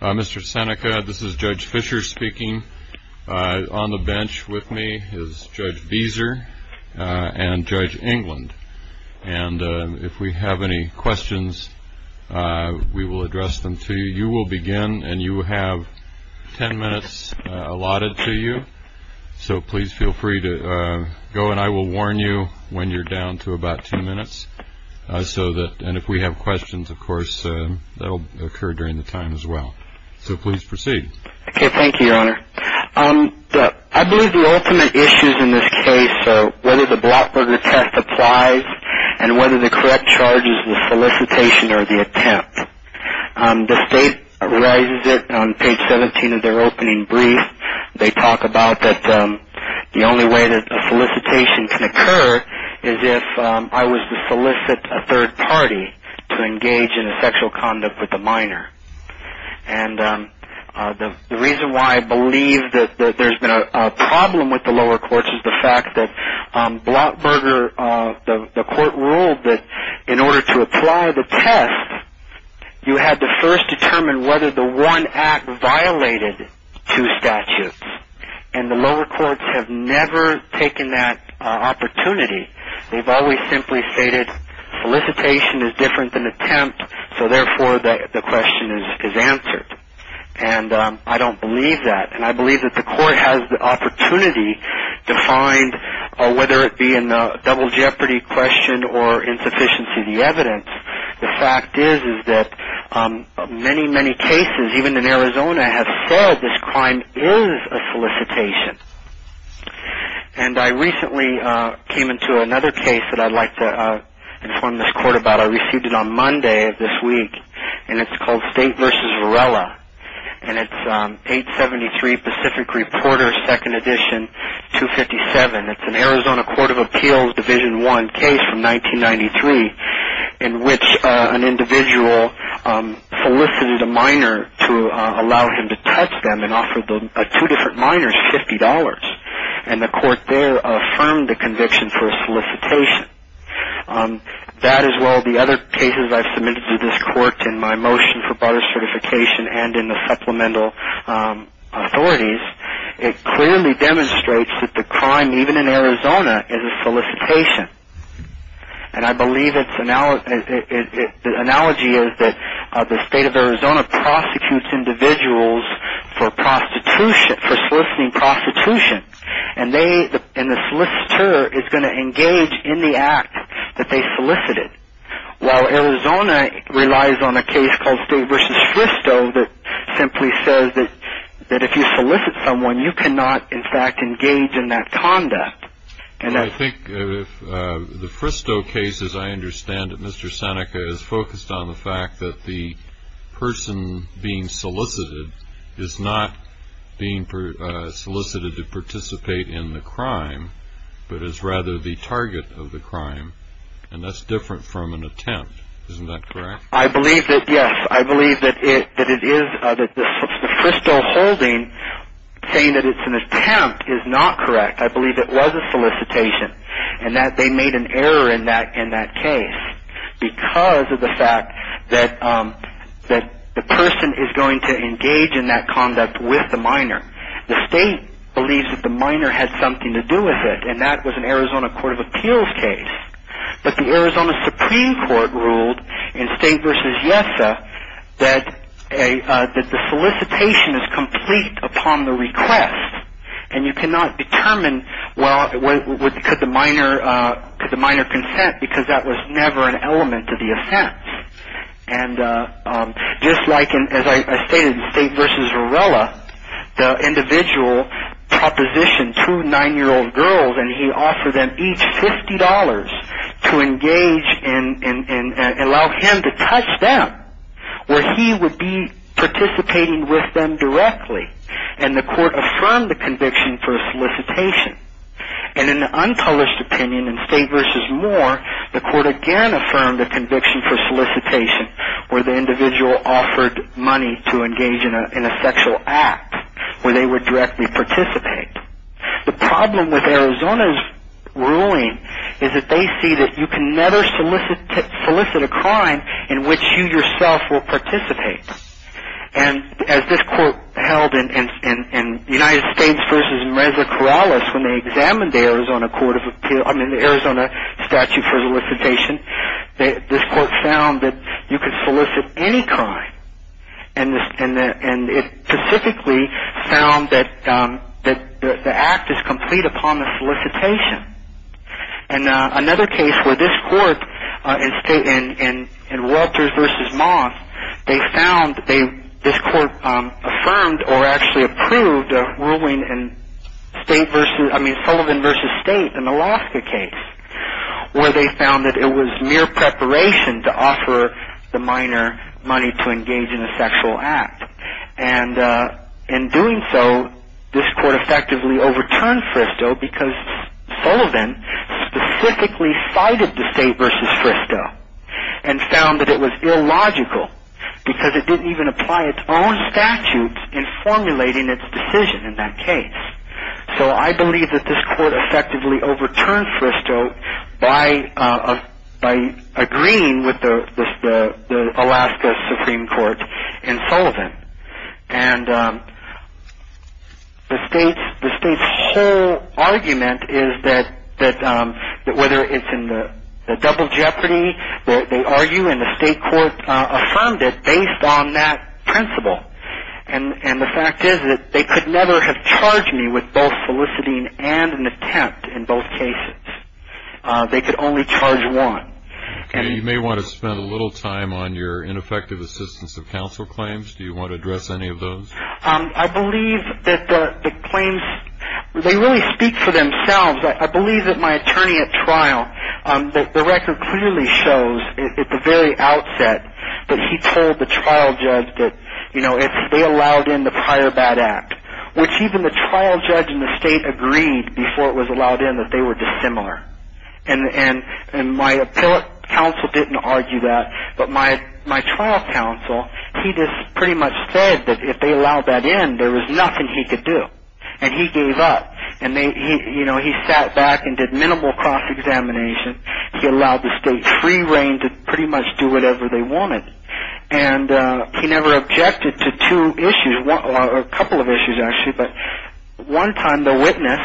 Mr. Seneca, this is Judge Fischer speaking. On the bench with me is Judge Beeser and Judge England. And if we have any questions, we will address them to you. You will begin, and you have ten minutes allotted to you. So please feel free to go, and I will warn you when you're down to about two minutes. And if we have questions, of course, that will occur during the time as well. So please proceed. Okay, thank you, Your Honor. I believe the ultimate issues in this case are whether the Blockberger test applies and whether the correct charge is the solicitation or the attempt. The State raises it on page 17 of their opening brief. They talk about that the only way that a solicitation can occur is if I was to solicit a third party to engage in a sexual conduct with a minor. And the reason why I believe that there's been a problem with the lower courts is the fact that Blockberger, the court ruled that in order to apply the test, you had to first determine whether the one act violated two statutes. And the lower courts have never taken that opportunity. They've always simply stated solicitation is different than attempt, so therefore the question is answered. And I don't believe that. And I believe that the court has the opportunity to find, whether it be in the double jeopardy question or insufficiency of the evidence, the fact is that many, many cases, even in Arizona, have said this crime is a solicitation. And I recently came into another case that I'd like to inform this court about. I received it on Monday of this week, and it's called State v. Varela. And it's 873 Pacific Reporter, Second Edition, 257. It's an Arizona Court of Appeals, Division I case from 1993, in which an individual solicited a minor to allow him to touch them and offered two different minors $50. And the court there affirmed the conviction for a solicitation. That, as well as the other cases I've submitted to this court in my motion for broader certification and in the supplemental authorities, it clearly demonstrates that the crime, even in Arizona, is a solicitation. And I believe the analogy is that the state of Arizona prosecutes individuals for soliciting prostitution. And the solicitor is going to engage in the act that they solicited, while Arizona relies on a case called State v. Fristo that simply says that if you solicit someone, you cannot, in fact, engage in that conduct. I think the Fristo case, as I understand it, Mr. Seneca, is focused on the fact that the person being solicited is not being solicited to participate in the crime, but is rather the target of the crime. And that's different from an attempt. Isn't that correct? I believe that, yes. I believe that the Fristo holding, saying that it's an attempt, is not correct. I believe it was a solicitation and that they made an error in that case because of the fact that the person is going to engage in that conduct with the minor. The state believes that the minor had something to do with it, and that was an Arizona Court of Appeals case. But the Arizona Supreme Court ruled in State v. Yesa that the solicitation is complete upon the request, and you cannot determine, well, could the minor consent, because that was never an element of the offense. And just like, as I stated, in State v. Varela, the individual propositioned two nine-year-old girls, and he offered them each $50 to engage and allow him to touch them, where he would be participating with them directly. And the court affirmed the conviction for solicitation. And in the uncolored's opinion in State v. Moore, the court again affirmed the conviction for solicitation, where the individual offered money to engage in a sexual act, where they would directly participate. The problem with Arizona's ruling is that they see that you can never solicit a crime in which you yourself will participate. And as this court held in United States v. Mreza Corrales, when they examined the Arizona statute for solicitation, this court found that you could solicit any crime. And it specifically found that the act is complete upon the solicitation. And another case where this court, in Welters v. Moss, they found that this court affirmed or actually approved a ruling in Sullivan v. State, an Alaska case, where they found that it was mere preparation to offer the minor money to engage in a sexual act. And in doing so, this court effectively overturned Fristoe, because Sullivan specifically cited the State v. Fristoe and found that it was illogical, because it didn't even apply its own statutes in formulating its decision in that case. So I believe that this court effectively overturned Fristoe by agreeing with the Alaska Supreme Court in Sullivan. And the state's whole argument is that whether it's in the double jeopardy, they argue and the state court affirmed it based on that principle. And the fact is that they could never have charged me with both soliciting and an attempt in both cases. They could only charge one. You may want to spend a little time on your ineffective assistance of counsel claims. Do you want to address any of those? I believe that the claims, they really speak for themselves. I believe that my attorney at trial, the record clearly shows at the very outset that he told the trial judge that they allowed in the prior bad act, which even the trial judge and the state agreed before it was allowed in that they were dissimilar. And my appellate counsel didn't argue that, but my trial counsel, he just pretty much said that if they allowed that in, there was nothing he could do. And he gave up. And he sat back and did minimal cross-examination. He allowed the state free reign to pretty much do whatever they wanted. And he never objected to two issues, or a couple of issues actually. But one time the witness,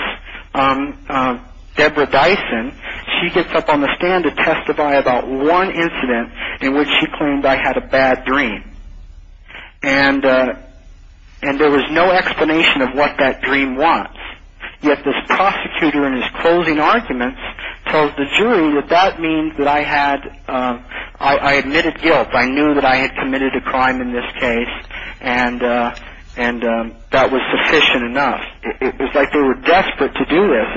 Deborah Dyson, she gets up on the stand to testify about one incident in which she claimed I had a bad dream. And there was no explanation of what that dream was. Yet this prosecutor in his closing arguments told the jury that that means that I had, I admitted guilt. I knew that I had committed a crime in this case. And that was sufficient enough. It was like they were desperate to do this.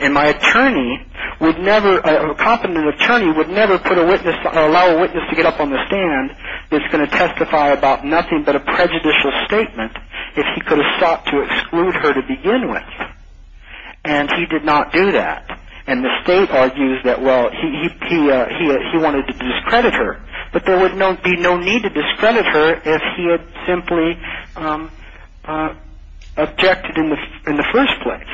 And my attorney would never, a competent attorney would never put a witness, allow a witness to get up on the stand that's going to testify about nothing but a prejudicial statement if he could have sought to exclude her to begin with. And he did not do that. And the state argues that, well, he wanted to discredit her. But there would be no need to discredit her if he had simply objected in the first place.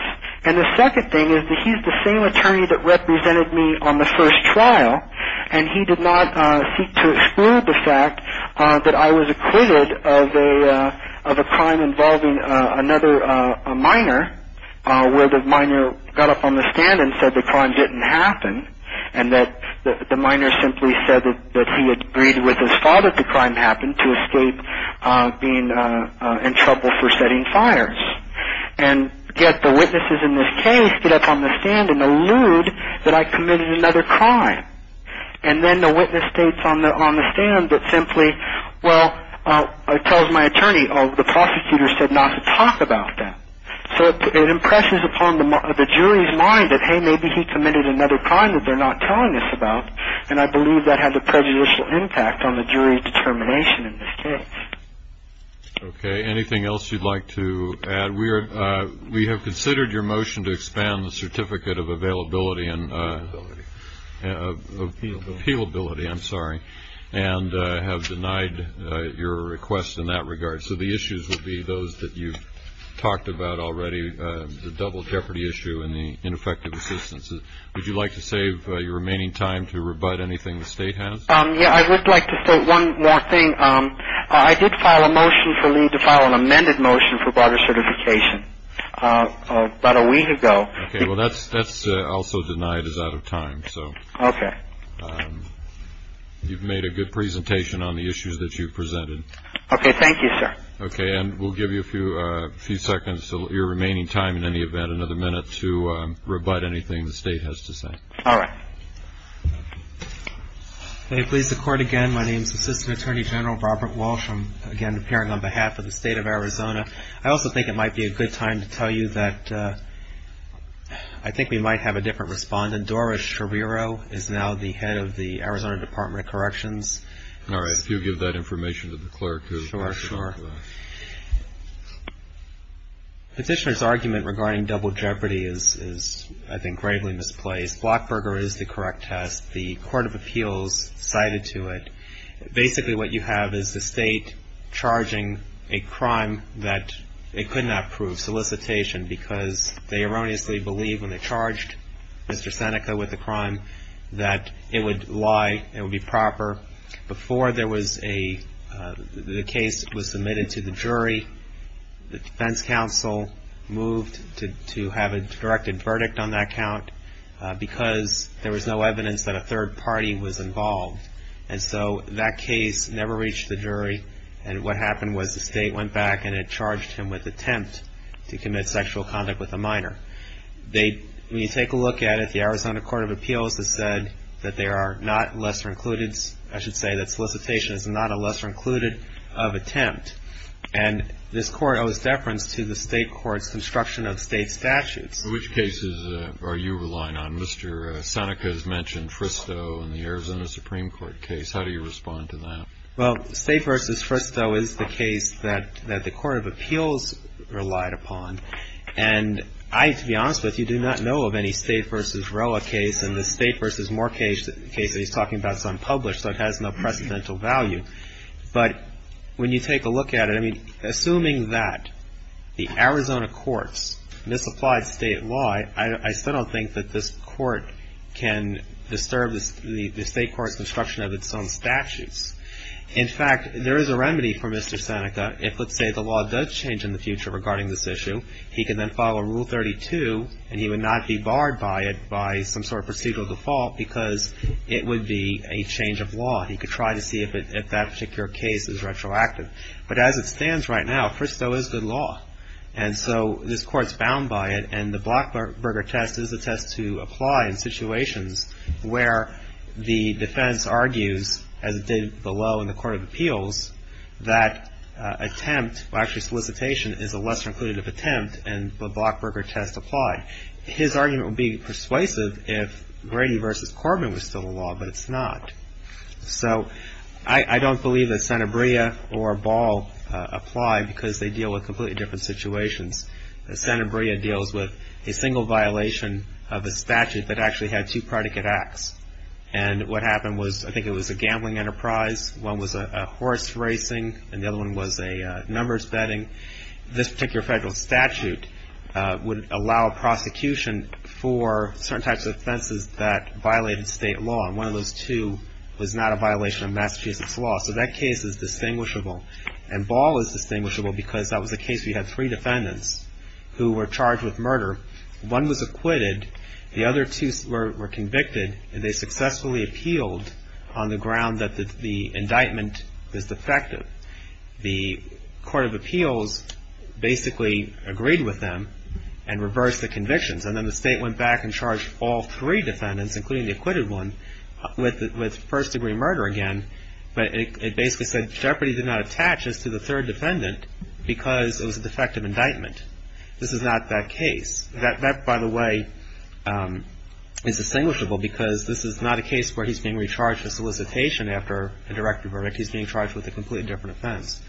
And the second thing is that he's the same attorney that represented me on the first trial. And he did not seek to exclude the fact that I was acquitted of a crime involving another minor where the minor got up on the stand and said the crime didn't happen and that the minor simply said that he had agreed with his father that the crime happened to escape being in trouble for setting fires. And yet the witnesses in this case get up on the stand and allude that I committed another crime. And then the witness states on the stand that simply, well, tells my attorney, oh, the prosecutor said not to talk about that. So it impresses upon the jury's mind that, hey, maybe he committed another crime that they're not telling us about. And I believe that had a prejudicial impact on the jury determination in this case. Okay. Anything else you'd like to add? We have considered your motion to expand the certificate of availability and appealability, I'm sorry, and have denied your request in that regard. So the issues would be those that you've talked about already, the double jeopardy issue and the ineffective assistance. Would you like to save your remaining time to rebut anything the state has? Yeah, I would like to say one more thing. I did file a motion to file an amended motion for broader certification about a week ago. Okay. Well, that's also denied as out of time. Okay. You've made a good presentation on the issues that you've presented. Okay. Thank you, sir. Okay. And we'll give you a few seconds, your remaining time in any event, another minute to rebut anything the state has to say. All right. Okay. Please record again. Hi, my name is Assistant Attorney General Robert Walsh. I'm, again, appearing on behalf of the state of Arizona. I also think it might be a good time to tell you that I think we might have a different respondent. Dora Scherrero is now the head of the Arizona Department of Corrections. All right. If you'll give that information to the clerk who will answer that. Sure, sure. Petitioner's argument regarding double jeopardy is, I think, gravely misplaced. Blockburger is the correct test. The court of appeals cited to it. Basically what you have is the state charging a crime that it could not prove, solicitation, because they erroneously believe when they charged Mr. Seneca with a crime that it would lie, it would be proper. Before there was a case that was submitted to the jury, the defense counsel moved to have a directed verdict on that count, because there was no evidence that a third party was involved. And so that case never reached the jury, and what happened was the state went back and it charged him with attempt to commit sexual conduct with a minor. When you take a look at it, the Arizona court of appeals has said that there are not lesser included, I should say that solicitation is not a lesser included of attempt. And this court owes deference to the state court's construction of state statutes. Which cases are you relying on? Mr. Seneca has mentioned Fristoe in the Arizona Supreme Court case. How do you respond to that? Well, State v. Fristoe is the case that the court of appeals relied upon. And I, to be honest with you, do not know of any State v. Roa case. And the State v. Moore case that he's talking about is unpublished, so it has no precedental value. But when you take a look at it, I mean, assuming that the Arizona court's misapplied State law, I still don't think that this court can disturb the State court's construction of its own statutes. In fact, there is a remedy for Mr. Seneca if, let's say, the law does change in the future regarding this issue. He can then follow Rule 32, and he would not be barred by it, by some sort of procedural default, because it would be a change of law. He could try to see if that particular case is retroactive. But as it stands right now, Fristoe is good law. And so this court's bound by it. And the Blockberger test is a test to apply in situations where the defense argues, as it did below in the court of appeals, that attempt, well, actually solicitation, is a lesser inclusive attempt, and the Blockberger test applied. His argument would be persuasive if Brady v. Corbin was still the law, but it's not. So I don't believe that Sanabria or Ball apply because they deal with completely different situations. Sanabria deals with a single violation of a statute that actually had two predicate acts. And what happened was, I think it was a gambling enterprise, one was a horse racing, and the other one was a numbers betting. This particular federal statute would allow prosecution for certain types of offenses that violated State law. And one of those two was not a violation of Massachusetts law. So that case is distinguishable. And Ball is distinguishable because that was a case where you had three defendants who were charged with murder. One was acquitted. The other two were convicted, and they successfully appealed on the ground that the indictment was defective. The court of appeals basically agreed with them and reversed the convictions. And then the State went back and charged all three defendants, including the acquitted one, with first-degree murder again. But it basically said Jeopardy! did not attach this to the third defendant because it was a defective indictment. This is not that case. That, by the way, is distinguishable because this is not a case where he's being recharged for solicitation after a directive verdict. He's being charged with a completely different offense.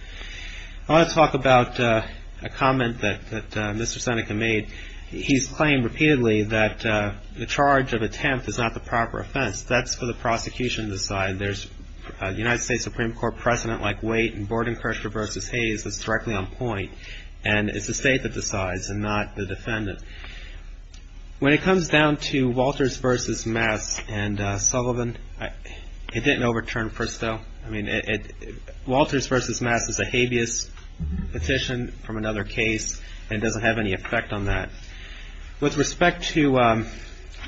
I want to talk about a comment that Mr. Seneca made. He's claimed repeatedly that the charge of attempt is not the proper offense. That's for the prosecution to decide. There's a United States Supreme Court precedent like Waite and Bordenkircher v. Hayes that's directly on point. And it's the State that decides and not the defendant. When it comes down to Walters v. Mass and Sullivan, it didn't overturn Fristoe. Walters v. Mass is a habeas petition from another case and doesn't have any effect on that. With respect to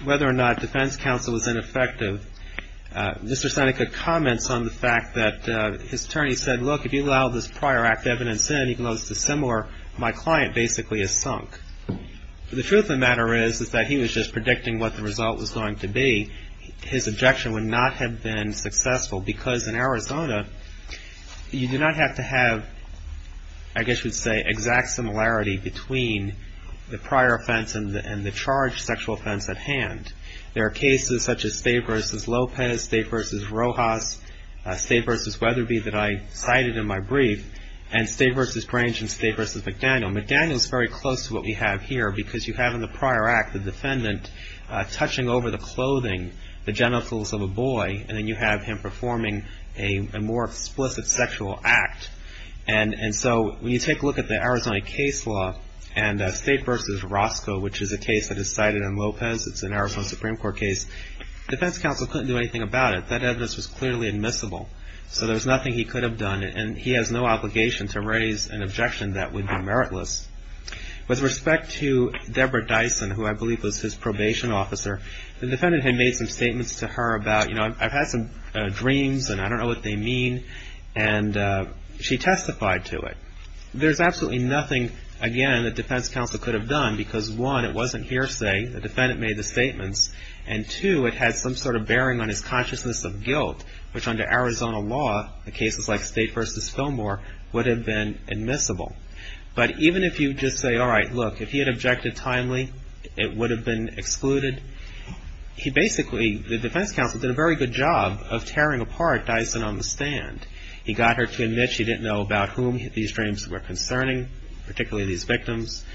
whether or not defense counsel was ineffective, Mr. Seneca comments on the fact that his attorney said, look, if you allow this prior act evidence in, even though it's dissimilar, my client basically is sunk. The truth of the matter is that he was just predicting what the result was going to be. His objection would not have been successful because in Arizona, you do not have to have, I guess you would say, exact similarity between the prior offense and the charged sexual offense at hand. There are cases such as State v. Lopez, State v. Rojas, State v. Weatherby that I cited in my brief, and State v. Grange and State v. McDaniel. McDaniel is very close to what we have here because you have in the prior act the defendant touching over the clothing, the genitals of a boy, and then you have him performing a more explicit sexual act. And so when you take a look at the Arizona case law and State v. Roscoe, which is a case that is cited in Lopez, it's an Arizona Supreme Court case, defense counsel couldn't do anything about it. That evidence was clearly admissible. So there was nothing he could have done, and he has no obligation to raise an objection that would be meritless. With respect to Deborah Dyson, who I believe was his probation officer, the defendant had made some statements to her about, you know, I've had some dreams and I don't know what they mean, and she testified to it. There's absolutely nothing, again, that defense counsel could have done because, one, it wasn't hearsay. The defendant made the statements. And, two, it had some sort of bearing on his consciousness of guilt, which under Arizona law, in cases like State v. Fillmore, would have been admissible. But even if you just say, all right, look, if he had objected timely, it would have been excluded. He basically, the defense counsel did a very good job of tearing apart Dyson on the stand. He got her to admit she didn't know about whom these dreams were concerning, particularly these victims.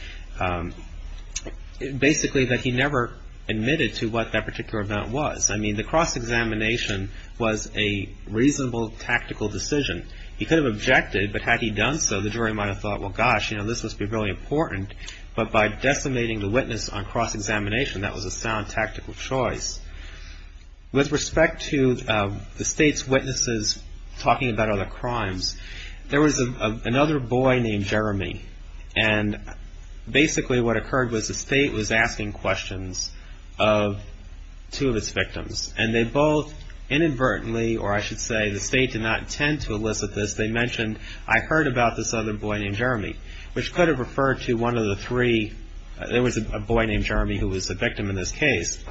Basically, that he never admitted to what that particular event was. I mean, the cross-examination was a reasonable tactical decision. He could have objected, but had he done so, the jury might have thought, well, gosh, you know, this must be really important. But by decimating the witness on cross-examination, that was a sound tactical choice. With respect to the State's witnesses talking about other crimes, there was another boy named Jeremy. And basically what occurred was the State was asking questions of two of its victims. And they both inadvertently, or I should say the State did not intend to elicit this, they mentioned, I heard about this other boy named Jeremy, which could have referred to one of the three. There was a boy named Jeremy who was the victim in this case.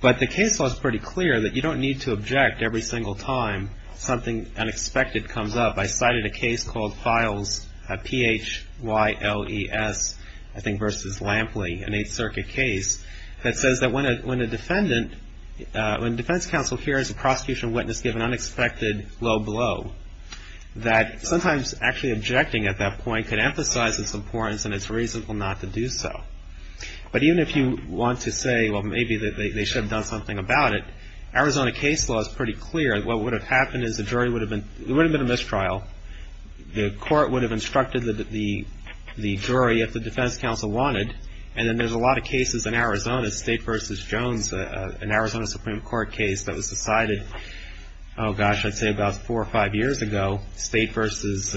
But the case law is pretty clear that you don't need to object every single time something unexpected comes up. I cited a case called Files, P-H-Y-L-E-S, I think versus Lampley, an Eighth Circuit case, that says that when a defendant, when defense counsel hears a prosecution witness give an unexpected low blow, that sometimes actually objecting at that point could emphasize its importance and it's reasonable not to do so. But even if you want to say, well, maybe they should have done something about it, Arizona case law is pretty clear. What would have happened is the jury would have been, it would have been a mistrial. The court would have instructed the jury if the defense counsel wanted. And then there's a lot of cases in Arizona, State versus Jones, an Arizona Supreme Court case that was decided, oh gosh, I'd say about four or five years ago, State versus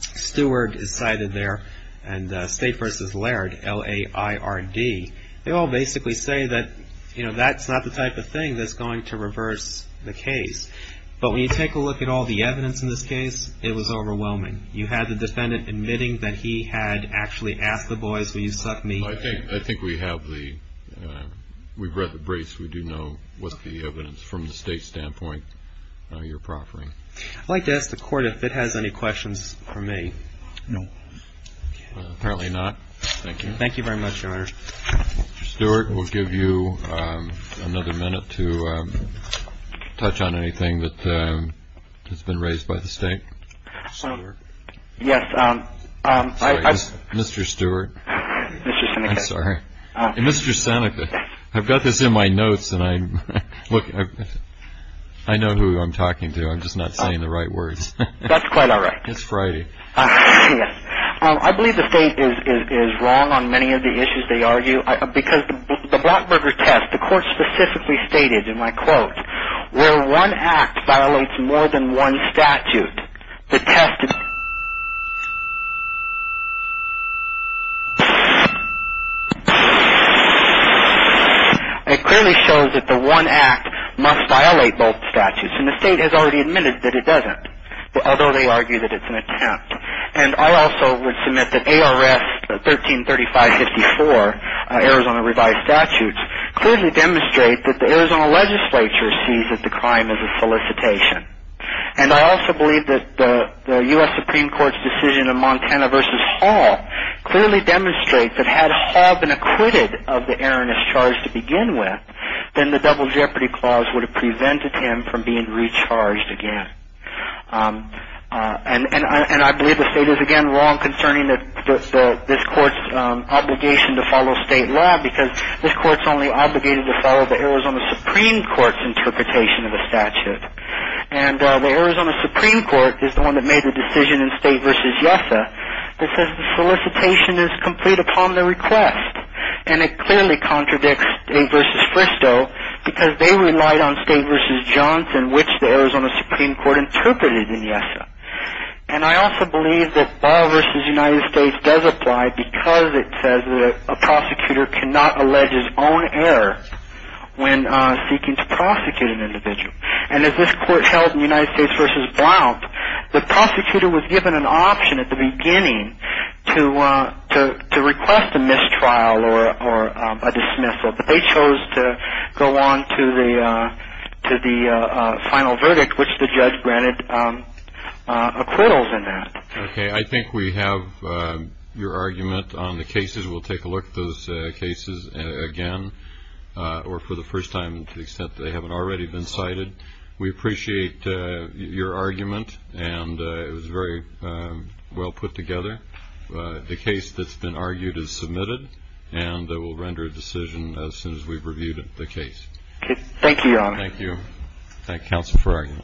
Stewart is cited there, and State versus Laird, L-A-I-R-D. They all basically say that, you know, that's not the type of thing that's going to reverse the case. But when you take a look at all the evidence in this case, it was overwhelming. You had the defendant admitting that he had actually asked the boys, will you suck me? I think we have the, we've read the briefs. We do know what the evidence from the State standpoint you're proffering. I'd like to ask the court if it has any questions for me. No. Apparently not. Thank you. Thank you very much, Governor. Stewart, we'll give you another minute to touch on anything that has been raised by the State. Yes. Mr. Stewart. Mr. Seneca. I'm sorry. Mr. Seneca, I've got this in my notes and I, look, I know who I'm talking to. I'm just not saying the right words. That's quite all right. It's Friday. I believe the State is wrong on many of the issues they argue. Because the Blackburger test, the court specifically stated in my quote, where one act violates more than one statute, the test, it clearly shows that the one act must violate both statutes. And the State has already admitted that it doesn't, although they argue that it's an attempt. And I also would submit that ARS 1335-54, Arizona revised statutes, clearly demonstrate that the Arizona legislature sees that the crime is a solicitation. And I also believe that the U.S. Supreme Court's decision in Montana v. Hall clearly demonstrates that had Hall been acquitted of the erroneous charge to begin with, then the Double Jeopardy Clause would have prevented him from being recharged again. And I believe the State is, again, wrong concerning this court's obligation to follow state law, because this court's only obligated to follow the Arizona Supreme Court's interpretation of the statute. And the Arizona Supreme Court is the one that made the decision in State v. YESA that says the solicitation is complete upon the request. And it clearly contradicts State v. Fristow, because they relied on State v. Johnson, which the Arizona Supreme Court interpreted in YESA. And I also believe that Ball v. United States does apply, because it says that a prosecutor cannot allege his own error when seeking to prosecute an individual. And as this court held in United States v. Blount, the prosecutor was given an option at the beginning to request a mistrial or a dismissal. But they chose to go on to the final verdict, which the judge granted acquittals in that. Okay. I think we have your argument on the cases. We'll take a look at those cases again, or for the first time, to the extent that they haven't already been cited. We appreciate your argument, and it was very well put together. The case that's been argued is submitted, and we'll render a decision as soon as we've reviewed the case. Okay. Thank you, Your Honor. Thank you. Thank counsel for arguing.